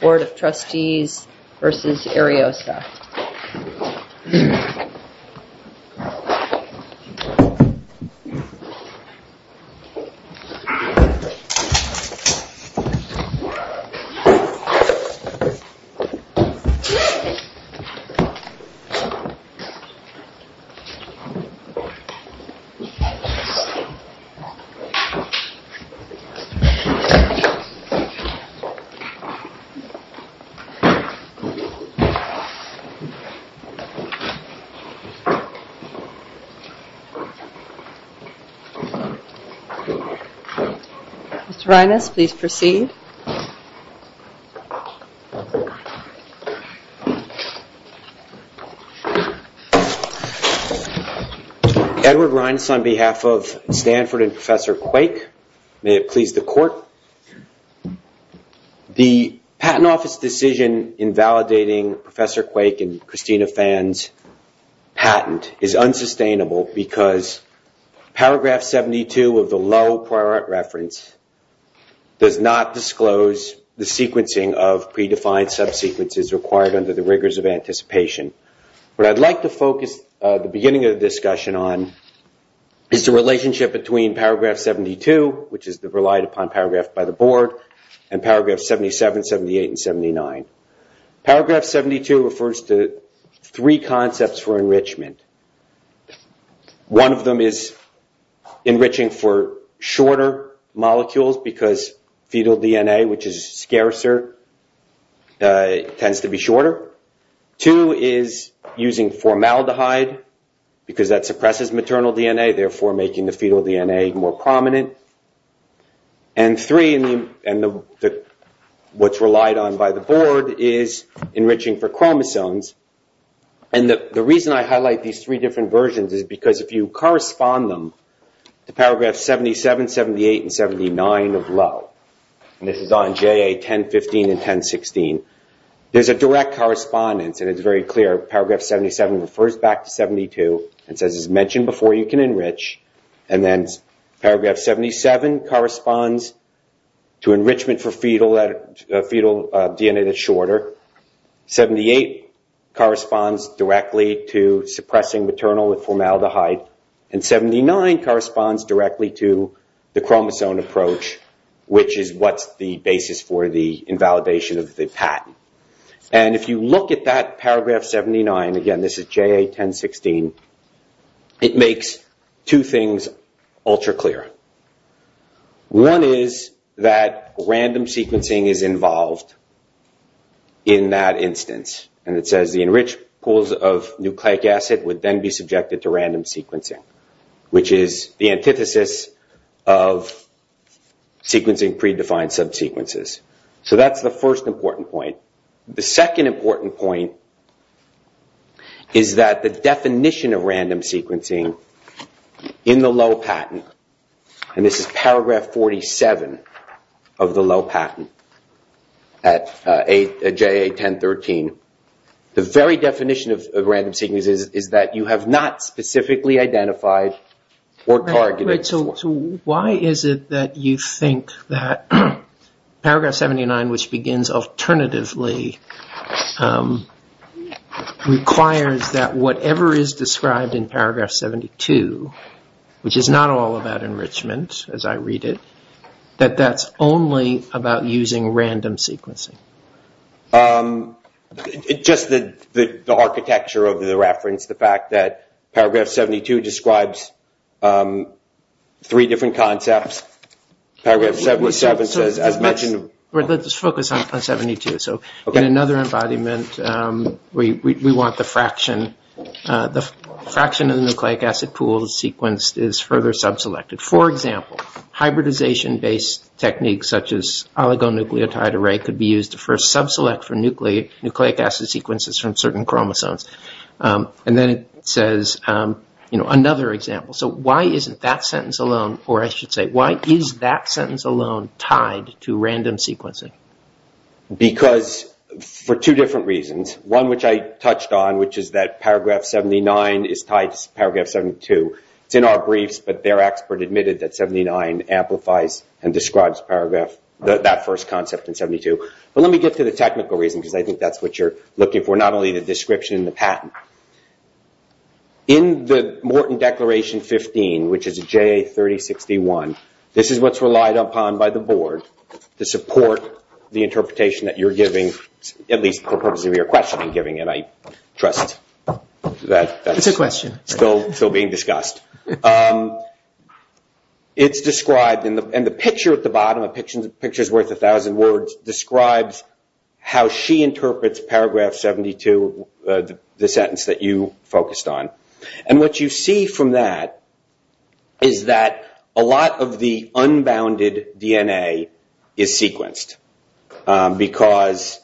Board of Trustees v. Ariosa Mr. Reines, please proceed. Edward Reines on behalf of Stanford and Professor Quake, may it please the Court. The Patent Office decision in validating Professor Quake and Christina Phan's patent is unsustainable because paragraph 72 of the low prior reference does not disclose the sequencing of predefined sub-sequences required under the rigors of anticipation. What I'd like to focus the beginning of the discussion on is the relationship between paragraph 72, which is relied upon paragraph by the Board, and paragraph 77, 78, and 79. Paragraph 72 refers to three concepts for enrichment. One of them is enriching for shorter molecules because fetal DNA, which is scarcer, tends to be shorter. Two is using formaldehyde because that suppresses maternal DNA, therefore making the fetal DNA more prominent. And three, what's relied on by the Board, is enriching for chromosomes. And the reason I highlight these three different versions is because if you correspond them to paragraph 77, 78, and 79 of low, and this is on JA 1015 and 1016, there's a direct correspondence and it's very clear. Paragraph 77 refers back to 72 and says it's mentioned before you can enrich. And then paragraph 77 corresponds to enrichment for fetal DNA that's shorter. 78 corresponds directly to suppressing maternal with formaldehyde. And 79 corresponds directly to the chromosome approach, which is what's the basis for the invalidation of the patent. And if you look at that paragraph 79, again this is JA 1016, it makes two things ultra clear. One is that random sequencing is involved in that instance. And it says the enriched pools of nucleic acid would then be subjected to random sequencing, which is the antithesis of sequencing predefined subsequences. So that's the first important point. The second important point is that the definition of random sequencing in the low patent, and this is paragraph 47 of the low patent at JA 1013, the very definition of random sequencing is that you have not specifically identified or targeted. So why is it that you think that paragraph 79, which begins alternatively, requires that whatever is described in paragraph 72, which is not all about enrichment as I read it, that that's only about using random sequencing? Just the architecture of the reference, the fact that paragraph 72 describes three different concepts. Paragraph 77 says, as mentioned. Let's focus on 72. So in another embodiment, we want the fraction. The fraction of the nucleic acid pool sequenced is further subselected. For example, hybridization-based techniques, such as oligonucleotide array, could be used to first subselect for nucleic acid sequences from certain chromosomes. And then it says, you know, another example. So why isn't that sentence alone, or I should say, why is that sentence alone tied to random sequencing? Because for two different reasons. One, which I touched on, which is that paragraph 79 is tied to paragraph 72. It's in our briefs, but their expert admitted that 79 amplifies and describes that first concept in 72. But let me get to the technical reason, because I think that's what you're looking for, not only the description and the patent. In the Morton Declaration 15, which is JA3061, this is what's relied upon by the board to support the interpretation that you're giving, at least for the purpose of your questioning, and I trust that that's still being discussed. It's described, and the picture at the bottom, a picture's worth a thousand words, describes how she interprets paragraph 72, the sentence that you focused on. And what you see from that is that a lot of the unbounded DNA is sequenced, because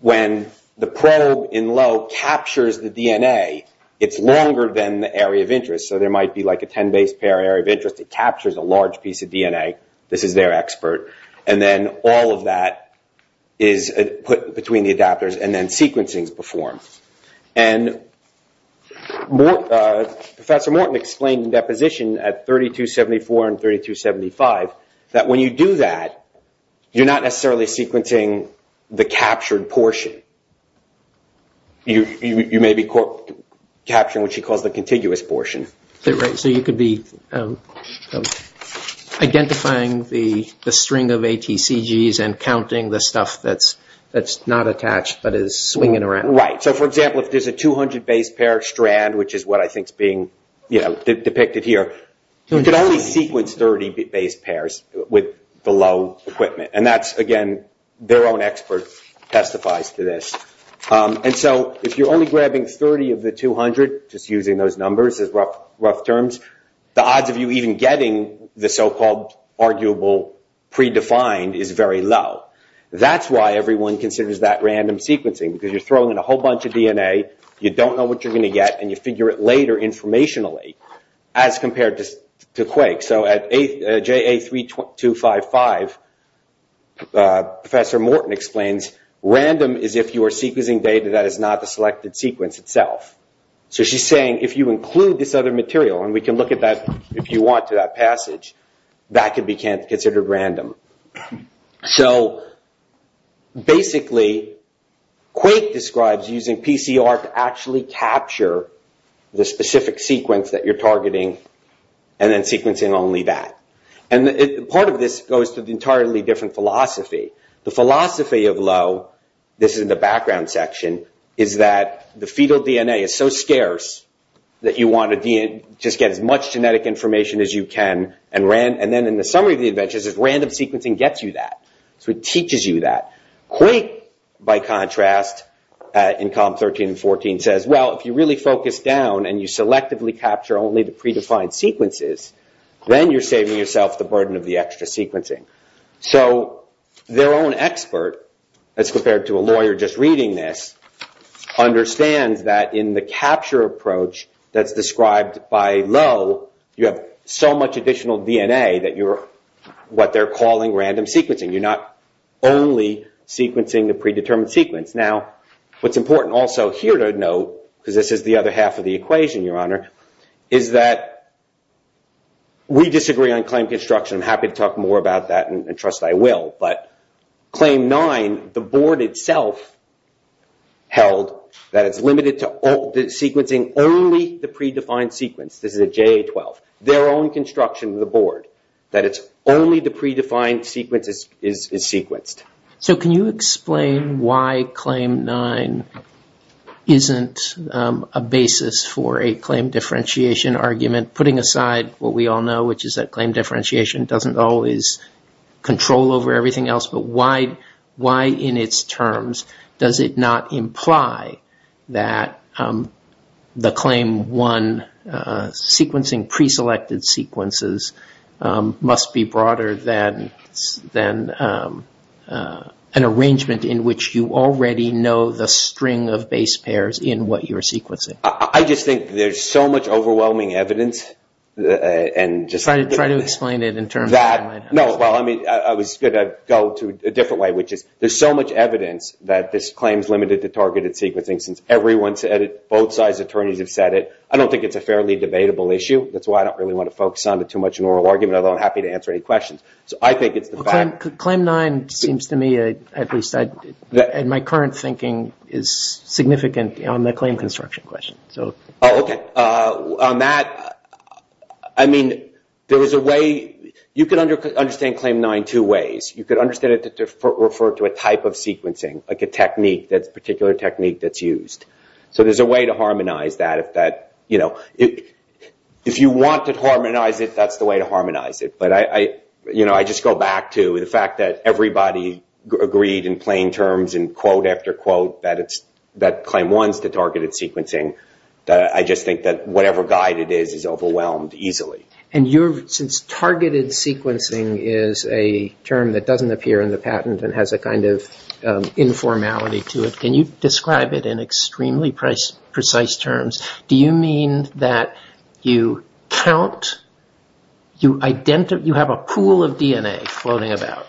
when the probe in low captures the DNA, it's longer than the area of interest. So there might be like a 10 base pair area of interest. It captures a large piece of DNA. This is their expert. And then all of that is put between the adapters, and then sequencing's performed. And Professor Morton explained in deposition at 3274 and 3275, that when you do that, you're not necessarily sequencing the captured portion. You may be capturing what she calls the contiguous portion. Right, so you could be identifying the string of ATCGs and counting the stuff that's not attached but is swinging around. Right. So, for example, if there's a 200 base pair strand, which is what I think is being depicted here, you could only sequence 30 base pairs with the low equipment. And that's, again, their own expert testifies to this. And so if you're only grabbing 30 of the 200, just using those numbers as rough terms, the odds of you even getting the so-called arguable predefined is very low. That's why everyone considers that random sequencing, because you're throwing in a whole bunch of DNA, you don't know what you're going to get, and you figure it later informationally as compared to Quake. So at JA3255, Professor Morton explains, random is if you are sequencing data that is not the selected sequence itself. So she's saying if you include this other material, and we can look at that if you want to, that passage, that could be considered random. So, basically, Quake describes using PCR to actually capture the specific sequence that you're targeting, and then sequencing only that. And part of this goes to the entirely different philosophy. The philosophy of low, this is in the background section, is that the fetal DNA is so scarce that you want to just get as much genetic information as you can, and then in the summary of the adventures is random sequencing gets you that. So it teaches you that. Quake, by contrast, in column 13 and 14, says, well, if you really focus down and you selectively capture only the predefined sequences, then you're saving yourself the burden of the extra sequencing. So their own expert, as compared to a lawyer just reading this, understands that in the capture approach that's described by low, you have so much additional DNA that you're what they're calling random sequencing. You're not only sequencing the predetermined sequence. Now, what's important also here to note, because this is the other half of the equation, Your Honor, is that we disagree on claim construction. I'm happy to talk more about that, and trust I will. But claim 9, the board itself held that it's limited to sequencing only the predefined sequence. This is a JA-12. Their own construction of the board, that it's only the predefined sequence is sequenced. So can you explain why claim 9 isn't a basis for a claim differentiation argument, putting aside what we all know, which is that claim differentiation doesn't always control over everything else, but why in its terms does it not imply that the claim 1 sequencing, preselected sequences, must be broader than an arrangement in which you already know the string of base pairs in what you're sequencing? I just think there's so much overwhelming evidence. Try to explain it in terms of what might happen. I was going to go to a different way, which is there's so much evidence that this claim is limited to targeted sequencing, since everyone said it, both sides of the attorneys have said it. I don't think it's a fairly debatable issue. That's why I don't really want to focus on it too much in oral argument, although I'm happy to answer any questions. So I think it's the fact... Claim 9 seems to me, at least in my current thinking, is significant on the claim construction question. Okay. On that, I mean, there was a way... You could understand claim 9 two ways. You could understand it to refer to a type of sequencing, like a particular technique that's used. So there's a way to harmonize that. If you want to harmonize it, that's the way to harmonize it. I just go back to the fact that everybody agreed in plain terms and quote after quote that claim 1 is the targeted sequencing. I just think that whatever guide it is, is overwhelmed easily. Since targeted sequencing is a term that doesn't appear in the patent and has a kind of informality to it, can you describe it in extremely precise terms? Do you mean that you count, you have a pool of DNA floating about,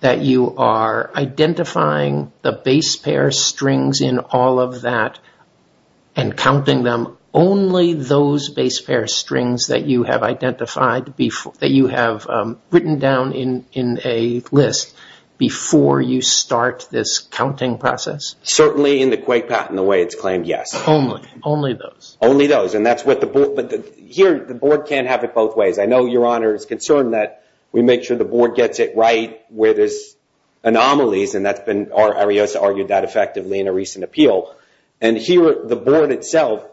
that you are identifying the base pair strings in all of that and counting them, only those base pair strings that you have identified, that you have written down in a list, before you start this counting process? Certainly in the Quake patent, the way it's claimed, yes. Only those? Only those. Here, the board can't have it both ways. I know Your Honor is concerned that we make sure the board gets it right where there's anomalies, and Ariosa argued that effectively in a recent appeal. Here, the board itself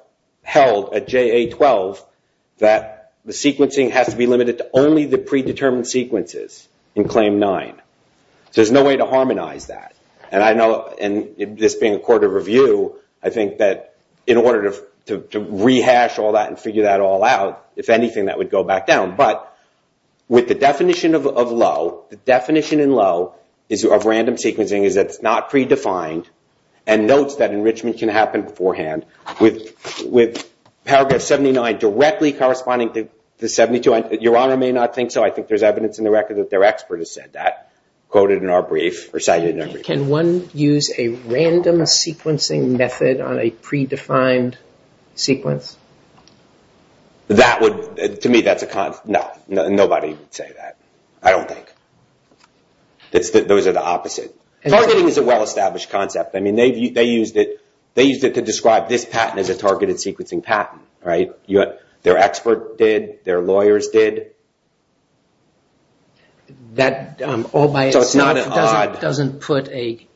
held at JA-12 that the sequencing has to be limited to only the predetermined sequences in claim 9. There's no way to harmonize that. This being a court of review, I think that in order to rehash all that and figure that all out, if anything that would go back down. But with the definition of low, the definition in low of random sequencing is that it's not predefined and notes that enrichment can happen beforehand. With paragraph 79 directly corresponding to 72, Your Honor may not think so. I think there's evidence in the record that their expert has said that, quoted in our brief. Can one use a random sequencing method on a predefined sequence? To me, that's a con. No, nobody would say that. I don't think. Those are the opposite. Targeting is a well-established concept. They used it to describe this patent as a targeted sequencing patent. Their expert did. Their lawyers did. That all by itself doesn't put a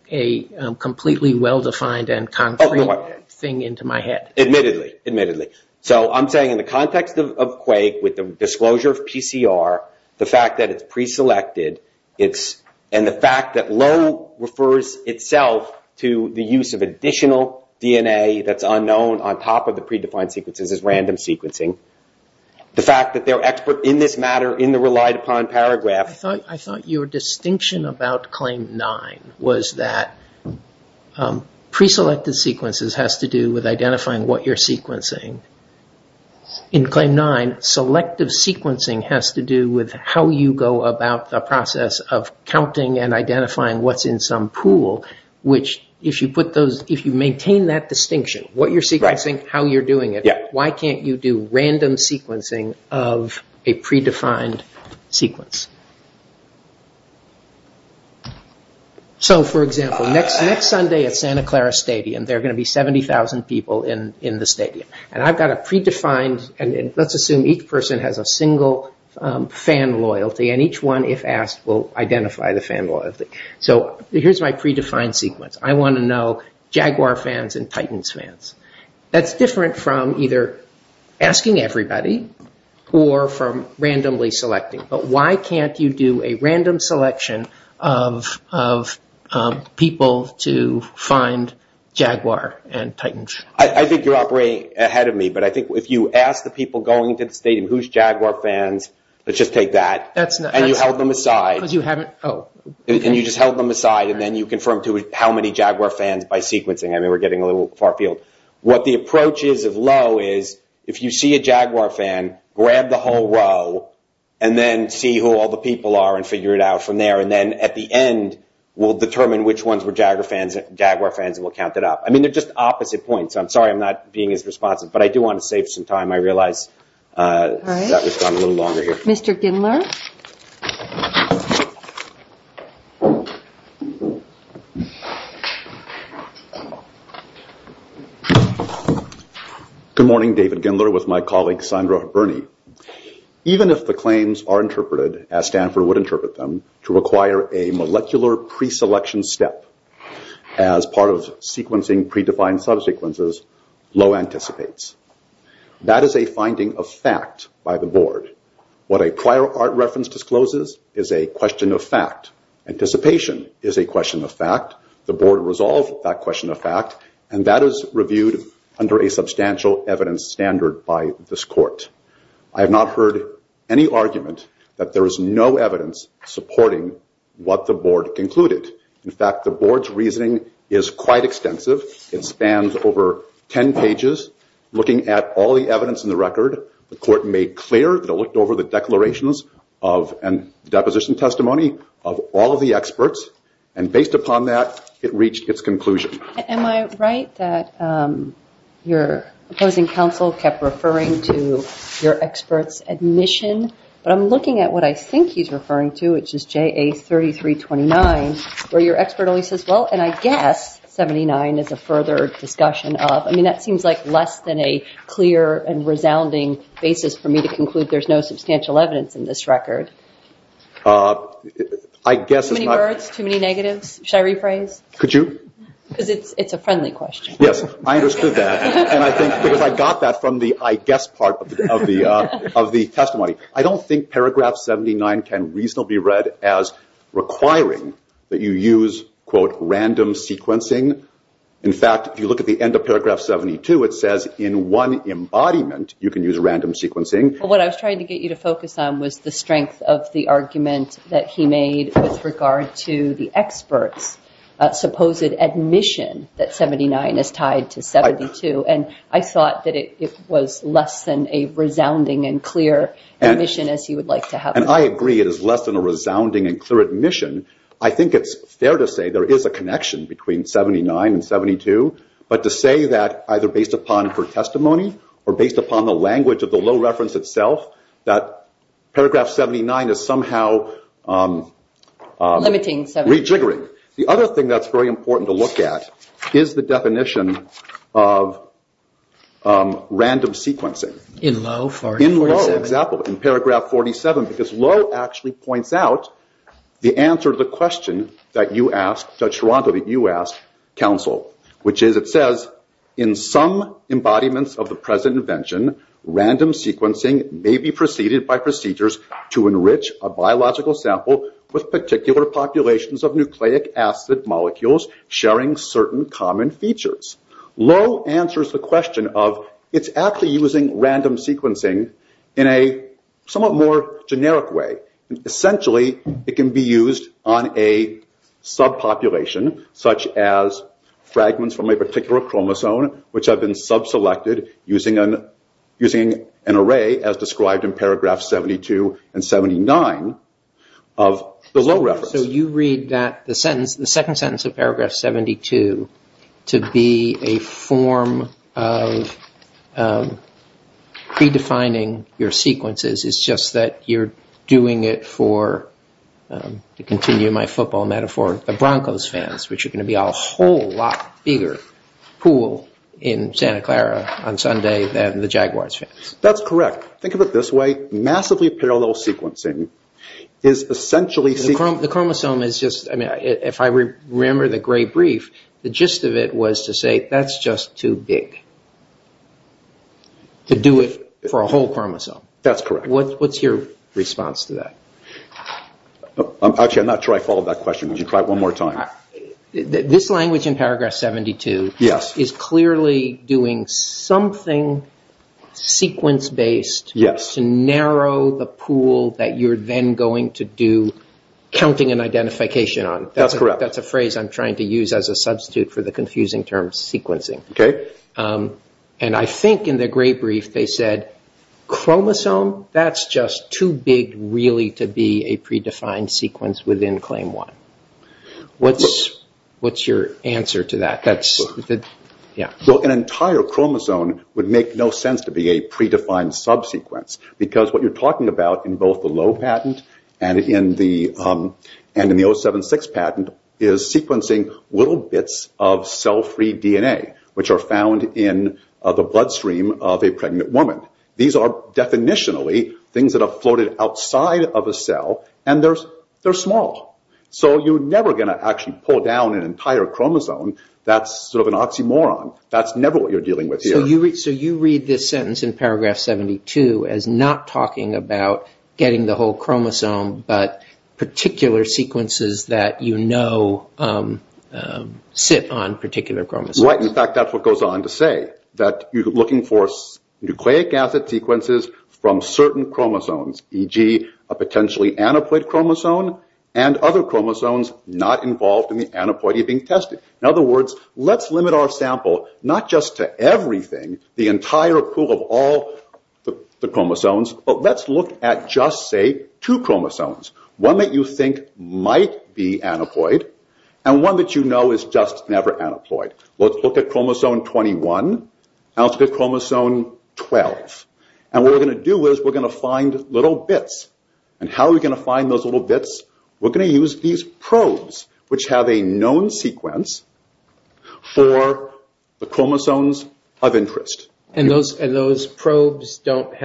completely well-defined and concrete thing into my head. Admittedly, admittedly. I'm saying in the context of Quake with the disclosure of PCR, the fact that it's preselected, and the fact that low refers itself to the use of additional DNA that's unknown on top of the predefined sequences is random sequencing. The fact that their expert in this matter, in the relied upon paragraph. I thought your distinction about Claim 9 was that preselected sequences has to do with identifying what you're sequencing. In Claim 9, selective sequencing has to do with how you go about the process of counting and identifying what's in some pool, which if you maintain that distinction, what you're sequencing, how you're doing it, why can't you do random sequencing of a predefined sequence. For example, next Sunday at Santa Clara Stadium, there are going to be 70,000 people in the stadium. I've got a predefined, and let's assume each person has a single fan loyalty, and each one, if asked, will identify the fan loyalty. Here's my predefined sequence. I want to know Jaguar fans and Titans fans. That's different from either asking everybody or from randomly selecting, but why can't you do a random selection of people to find Jaguar and Titans? I think you're operating ahead of me, but I think if you ask the people going to the stadium, who's Jaguar fans, let's just take that, and you held them aside, and you just held them aside, and then you confirmed to how many Jaguar fans by sequencing. We're getting a little far field. What the approach is of Lowe is if you see a Jaguar fan, grab the whole row, and then see who all the people are and figure it out from there, and then at the end, we'll determine which ones were Jaguar fans and we'll count it up. They're just opposite points. I'm sorry I'm not being as responsive, but I do want to save some time. I realize that we've gone a little longer here. Mr. Gindler. Good morning. David Gindler with my colleague Sandra Berni. Even if the claims are interpreted, as Stanford would interpret them, to require a molecular preselection step as part of sequencing predefined subsequences, Lowe anticipates. That is a finding of fact by the board. What a prior art reference discloses is a question of fact. Anticipation is a question of fact. The board resolved that question of fact, and that is reviewed under a substantial evidence standard by this court. I have not heard any argument that there is no evidence supporting what the board concluded. In fact, the board's reasoning is quite extensive. It spans over 10 pages, looking at all the evidence in the record. The court made clear that it looked over the declarations and deposition testimony of all of the experts, and based upon that, it reached its conclusion. Am I right that your opposing counsel kept referring to your expert's admission, but I'm looking at what I think he's referring to, which is JA3329, where your expert only says, well, and I guess 79 is a further discussion of. I mean, that seems like less than a clear and resounding basis for me to conclude there's no substantial evidence in this record. Too many words? Too many negatives? Should I rephrase? Could you? Because it's a friendly question. Yes, I understood that, because I got that from the I guess part of the testimony. I don't think paragraph 79 can reasonably be read as requiring that you use, quote, random sequencing. In fact, if you look at the end of paragraph 72, it says in one embodiment you can use random sequencing. Well, what I was trying to get you to focus on was the strength of the argument that he made with regard to the expert's supposed admission that 79 is tied to 72. And I thought that it was less than a resounding and clear admission as you would like to have it. And I agree it is less than a resounding and clear admission. I think it's fair to say there is a connection between 79 and 72, but to say that either based upon her testimony or based upon the language of the low reference itself, that paragraph 79 is somehow rejiggering. The other thing that's very important to look at is the definition of random sequencing. In Lowe? In Lowe, exactly, in paragraph 47. Because Lowe actually points out the answer to the question that you asked, Judge Toronto, that you asked counsel, which is it says in some embodiments of the present invention, random sequencing may be preceded by procedures to enrich a biological sample with particular populations of nucleic acid molecules sharing certain common features. Lowe answers the question of it's actually using random sequencing in a somewhat more generic way. Essentially, it can be used on a sub-population, such as fragments from a particular chromosome, which have been sub-selected using an array as described in paragraph 72 and 79 of the low reference. So you read the second sentence of paragraph 72 to be a form of pre-defining your sequences. It's just that you're doing it for, to continue my football metaphor, the Broncos fans, which are going to be a whole lot bigger pool in Santa Clara on Sunday than the Jaguars fans. That's correct. Think of it this way. Massively parallel sequencing is essentially... The chromosome is just, if I remember the gray brief, the gist of it was to say that's just too big to do it for a whole chromosome. That's correct. What's your response to that? Actually, I'm not sure I followed that question. Would you try it one more time? This language in paragraph 72 is clearly doing something sequence-based to narrow the pool that you're then going to do counting and identification on. That's correct. That's a phrase I'm trying to use as a substitute for the confusing term sequencing. I think in the gray brief they said chromosome, that's just too big really to be a pre-defined sequence within claim one. What's your answer to that? An entire chromosome would make no sense to be a pre-defined subsequence because what you're talking about in both the low patent and in the 076 patent is sequencing little bits of cell-free DNA which are found in the bloodstream of a pregnant woman. These are definitionally things that have floated outside of a cell and they're small. You're never going to actually pull down an entire chromosome. That's sort of an oxymoron. That's never what you're dealing with here. You read this sentence in paragraph 72 as not talking about getting the whole chromosome but particular sequences that you know sit on particular chromosomes. In fact, that's what goes on to say that you're looking for nucleic acid sequences from certain chromosomes, e.g. a potentially aneuploid chromosome and other chromosomes not involved in the aneuploid you're being tested. In other words, let's limit our sample not just to everything, the entire pool of all the chromosomes, but let's look at just, say, two chromosomes. One that you think might be aneuploid and one that you know is just never aneuploid. Let's look at chromosome 21 and let's look at chromosome 12. What we're going to do is we're going to find little bits. We're going to use these probes which have a known sequence for the chromosomes of interest. Those probes can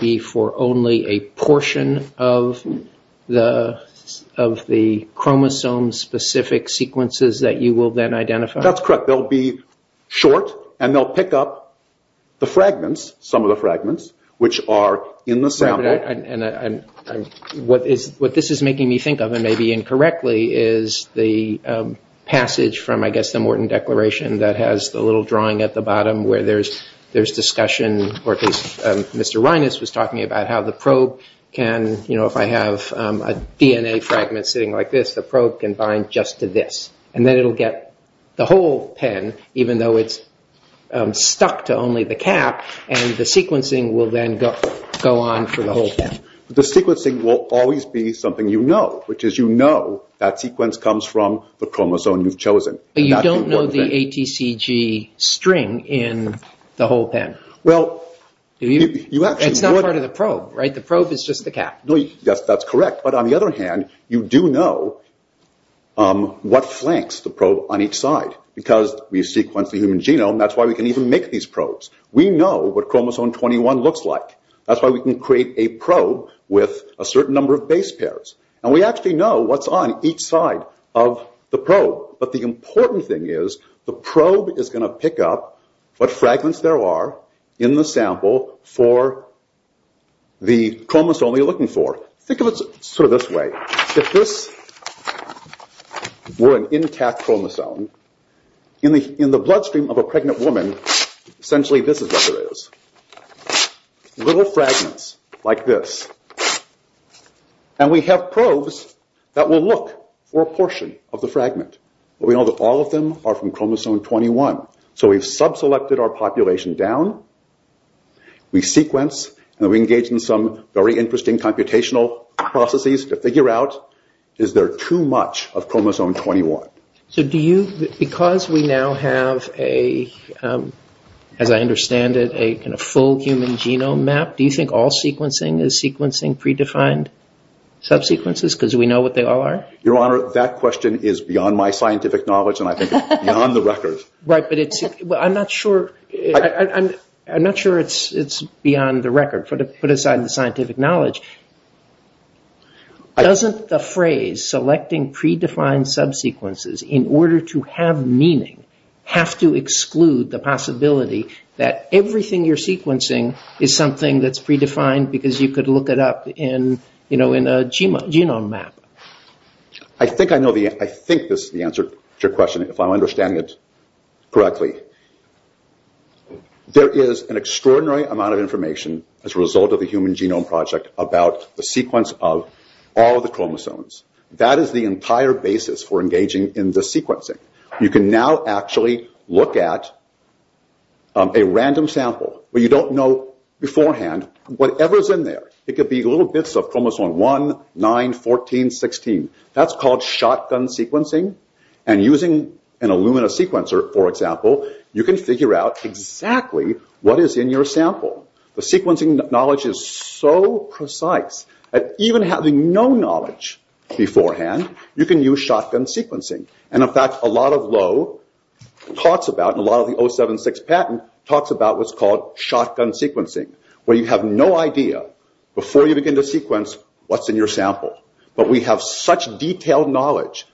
be for only a portion of the chromosome-specific sequences that you will then identify? That's correct. They'll be short and they'll pick up the fragments, some of the fragments, which are in the sample. What this is making me think of, and maybe incorrectly, is the passage from, I guess, the Morton Declaration that has the little drawing at the bottom where there's discussion. Mr. Reines was talking about how the probe can, if I have a DNA fragment sitting like this, the probe can bind just to this. Then it'll get the whole pen, even though it's stuck to only the cap, and the sequencing will then go on for the whole pen. The sequencing will always be something you know, which is you know that sequence comes from the chromosome you've chosen. You don't know the ATCG string in the whole pen? It's not part of the probe, right? The probe is just the cap? That's correct, but on the other hand, you do know what flanks the probe on each side. Because we sequence the human genome, that's why we can even make these probes. We know what chromosome 21 looks like. That's why we can create a probe with a certain number of base pairs. But the important thing is, the probe is going to pick up what fragments there are in the sample for the chromosome you're looking for. Think of it sort of this way. If this were an intact chromosome, in the bloodstream of a pregnant woman, essentially this is what there is. Little fragments like this. And we have probes that will look for a portion of the fragment. But we know that all of them are from chromosome 21. So we've sub-selected our population down, we sequence, and we engage in some very interesting computational processes to figure out, is there too much of chromosome 21? Because we now have, as I understand it, a full human genome map, do you think all sequencing is sequencing predefined sub-sequences? Because we know what they all are? Your Honor, that question is beyond my scientific knowledge, and I think it's beyond the record. Right, but I'm not sure it's beyond the record, put aside the scientific knowledge. Doesn't the phrase, selecting predefined sub-sequences in order to have meaning, have to exclude the possibility that everything you're sequencing is something that's predefined because you could look it up in a genome map? I think this is the answer to your question, if I'm understanding it correctly. There is an extraordinary amount of information as a result of the Human Genome Project about the sequence of all the chromosomes. That is the entire basis for engaging in the sequencing. You can now actually look at a random sample where you don't know beforehand whatever's in there. It could be little bits of chromosome 1, 9, 14, 16. That's called shotgun sequencing. And using an Illumina sequencer, for example, you can figure out exactly what is in your sample. The sequencing knowledge is so precise that even having no knowledge beforehand, you can use shotgun sequencing. And in fact, a lot of Lowe talks about, and a lot of the 076 patent talks about what's called shotgun sequencing, where you have no idea, before you begin to sequence, what's in your sample. But we have such detailed knowledge.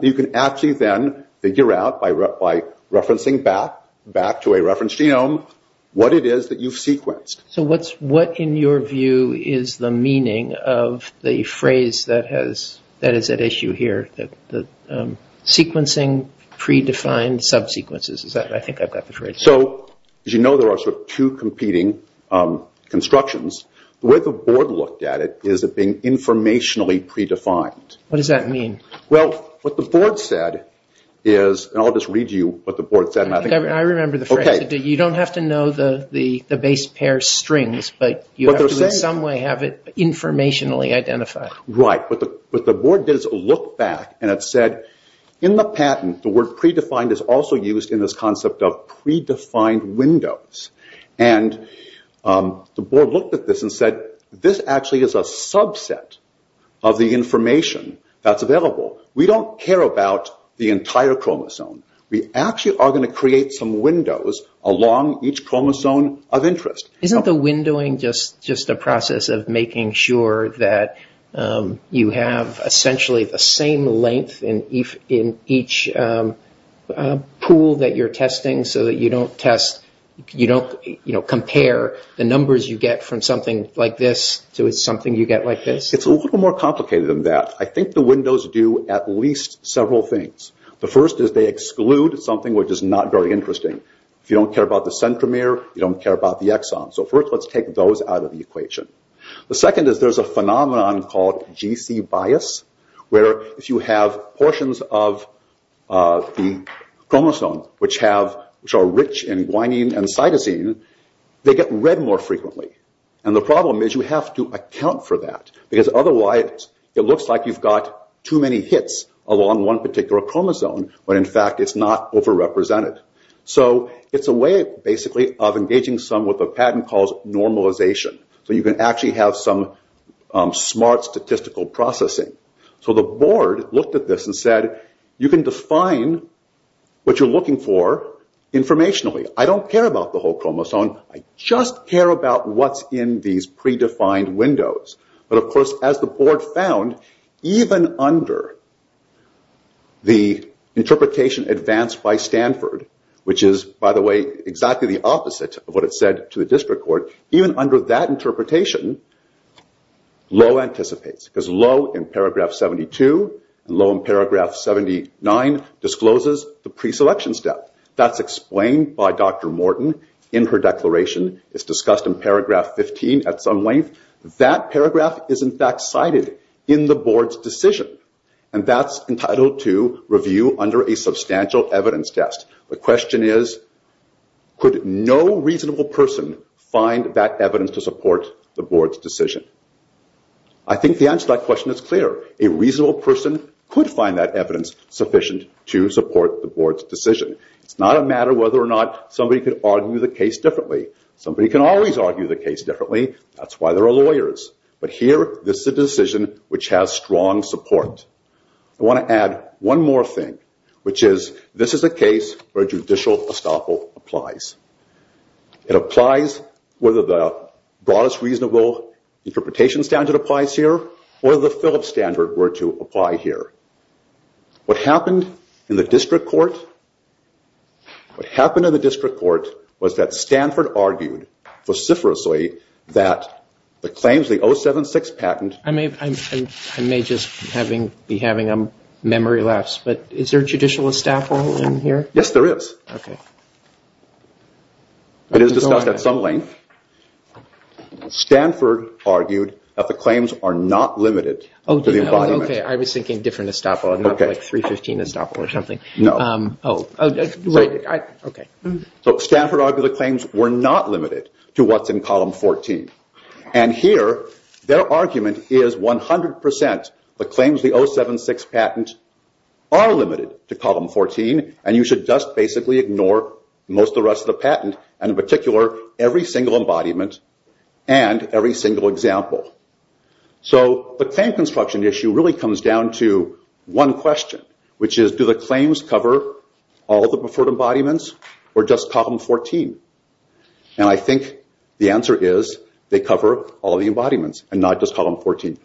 You can actually then figure out, by referencing back to a reference genome, what it is that you've sequenced. So what, in your view, is the meaning of the phrase that is at issue here? Sequencing predefined sub-sequences, I think I've got the phrase. So, as you know, there are two competing constructions. The way the board looked at it is it being informationally predefined. What does that mean? Well, what the board said is, and I'll just read you what the board said. I remember the phrase. You don't have to know the base pair strings, but you have to in some way have it informationally identified. Right. But the board does look back and it said, in the patent, the word predefined is also used in this concept of predefined windows. The board looked at this and said, this actually is a subset of the information that's available. We don't care about the entire chromosome. We actually are going to create some windows along each chromosome of interest. Isn't the windowing just a process of making sure that you have essentially the same length in each pool that you're testing, so that you don't compare the numbers you get from something like this to something you get like this? It's a little more complicated than that. I think the windows do at least several things. The first is they exclude something which is not very interesting. If you don't care about the centromere, you don't care about the exon. So, first, let's take those out of the equation. The second is there's a phenomenon called GC bias, where if you have portions of the chromosome, which are rich in guanine and cytosine, they get read more frequently. The problem is you have to account for that. Because otherwise it looks like you've got too many hits along one particular chromosome, when in fact it's not overrepresented. It's a way, basically, of engaging some what the patent calls normalization. You can actually have some smart statistical processing. The board looked at this and said, you can define what you're looking for informationally. I don't care about the whole chromosome. I just care about what's in these predefined windows. But, of course, as the board found, even under the interpretation advanced by Stanford, which is, by the way, exactly the opposite of what it said to the district court, even under that interpretation, Lowe anticipates. Because Lowe in paragraph 72 and Lowe in paragraph 79 discloses the preselection step. That's explained by Dr. Morton in her declaration. It's discussed in paragraph 15 at some length. That paragraph is in fact cited in the board's decision. That's entitled to review under a substantial evidence test. The question is, could no reasonable person find that evidence to support the board's decision? I think the answer to that question is clear. A reasonable person could find that evidence sufficient to support the board's decision. It's not a matter of whether or not somebody could argue the case differently. Somebody can always argue the case differently. That's why there are lawyers. But here, this is a decision which has strong support. I want to add one more thing, which is this is a case where judicial estoppel applies. It applies whether the broadest reasonable interpretation standard applies here or the Phillips standard were to apply here. What happened in the district court? What happened in the district court was that Stanford argued vociferously that the claims, the 076 patent. I may just be having a memory lapse, but is there judicial estoppel in here? Yes, there is. Okay. It is discussed at some length. Stanford argued that the claims are not limited to the embodiment. Okay, I was thinking different estoppel, not like 315 estoppel or something. No. Stanford argued the claims were not limited to what's in column 14. Here, their argument is 100% the claims of the 076 patent are limited to column 14, and you should just basically ignore most of the rest of the patent, and in particular, every single embodiment and every single example. The claim construction issue really comes down to one question, which is do the claims cover all the preferred embodiments or just column 14? And I think the answer is they cover all the embodiments and not just column 14.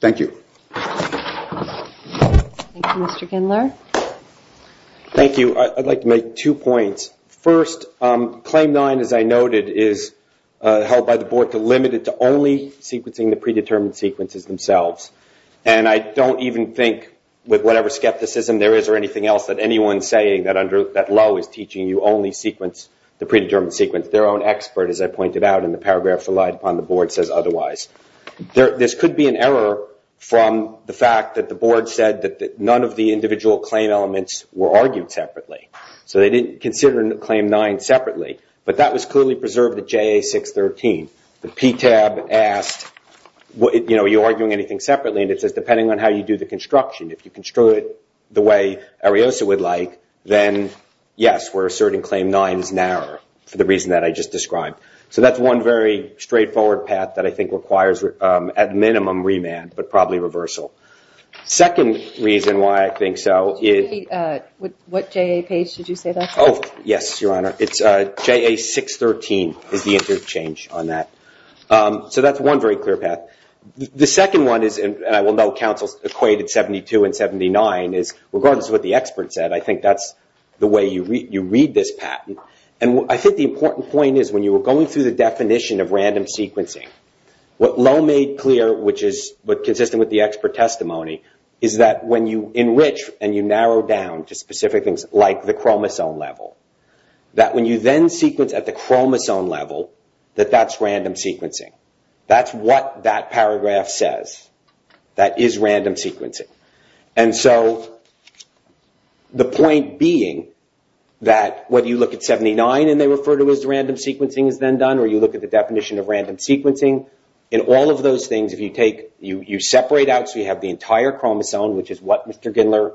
Thank you. Thank you, Mr. Gindler. Thank you. I'd like to make two points. First, claim nine, as I noted, is held by the board to limit it to only sequencing the predetermined sequences themselves, and I don't even think, with whatever skepticism there is or anything else, that anyone saying that Lowe is teaching you only the predetermined sequence, their own expert, as I pointed out in the paragraphs relied upon, the board says otherwise. This could be an error from the fact that the board said that none of the individual claim elements were argued separately, so they didn't consider claim nine separately, but that was clearly preserved at JA613. The PTAB asked, you know, are you arguing anything separately? And it says depending on how you do the construction, if you construe it the way Ariosa would like, then yes, we're asserting claim nine is narrower for the reason that I just described. So that's one very straightforward path that I think requires, at minimum, remand, but probably reversal. Second reason why I think so is. What JA page did you say that's on? Yes, Your Honor. It's JA613 is the interchange on that. So that's one very clear path. The second one is, and I will note counsels equated 72 and 79, is regardless of what the expert said, I think that's the way you read this patent, and I think the important point is when you were going through the definition of random sequencing, what Lowe made clear, which is consistent with the expert testimony, is that when you enrich and you narrow down to specific things like the chromosome level, that when you then sequence at the chromosome level, that that's random sequencing. That's what that paragraph says. That is random sequencing. And so the point being that whether you look at 79 and they refer to it as random sequencing is then done, or you look at the definition of random sequencing, in all of those things if you separate out so you have the entire chromosome, which is what Mr. Gindler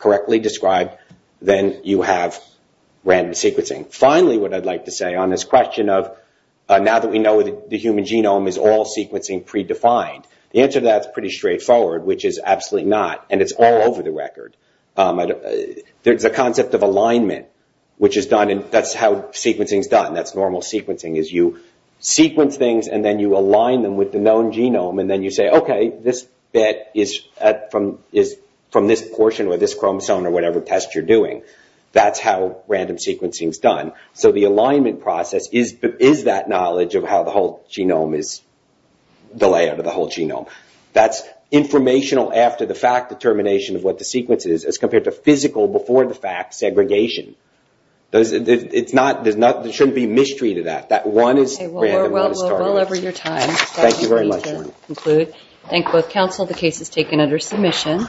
correctly described, then you have random sequencing. Finally, what I'd like to say on this question of now that we know the human genome is all sequencing predefined, the answer to that is pretty straightforward, which is absolutely not, and it's all over the record. There's a concept of alignment, which is done, and that's how sequencing is done. That's normal sequencing, is you sequence things and then you align them with the known genome, and then you say, okay, this bit is from this portion or this chromosome or whatever test you're doing. That's how random sequencing is done. So the alignment process is that knowledge of how the whole genome is the layout of the whole genome. That's informational after the fact determination of what the sequence is, as compared to physical before the fact segregation. There shouldn't be a mystery to that. That one is random. Okay. Well, we're well over your time. Thank you very much. Thank you both, counsel. The case is taken under submission.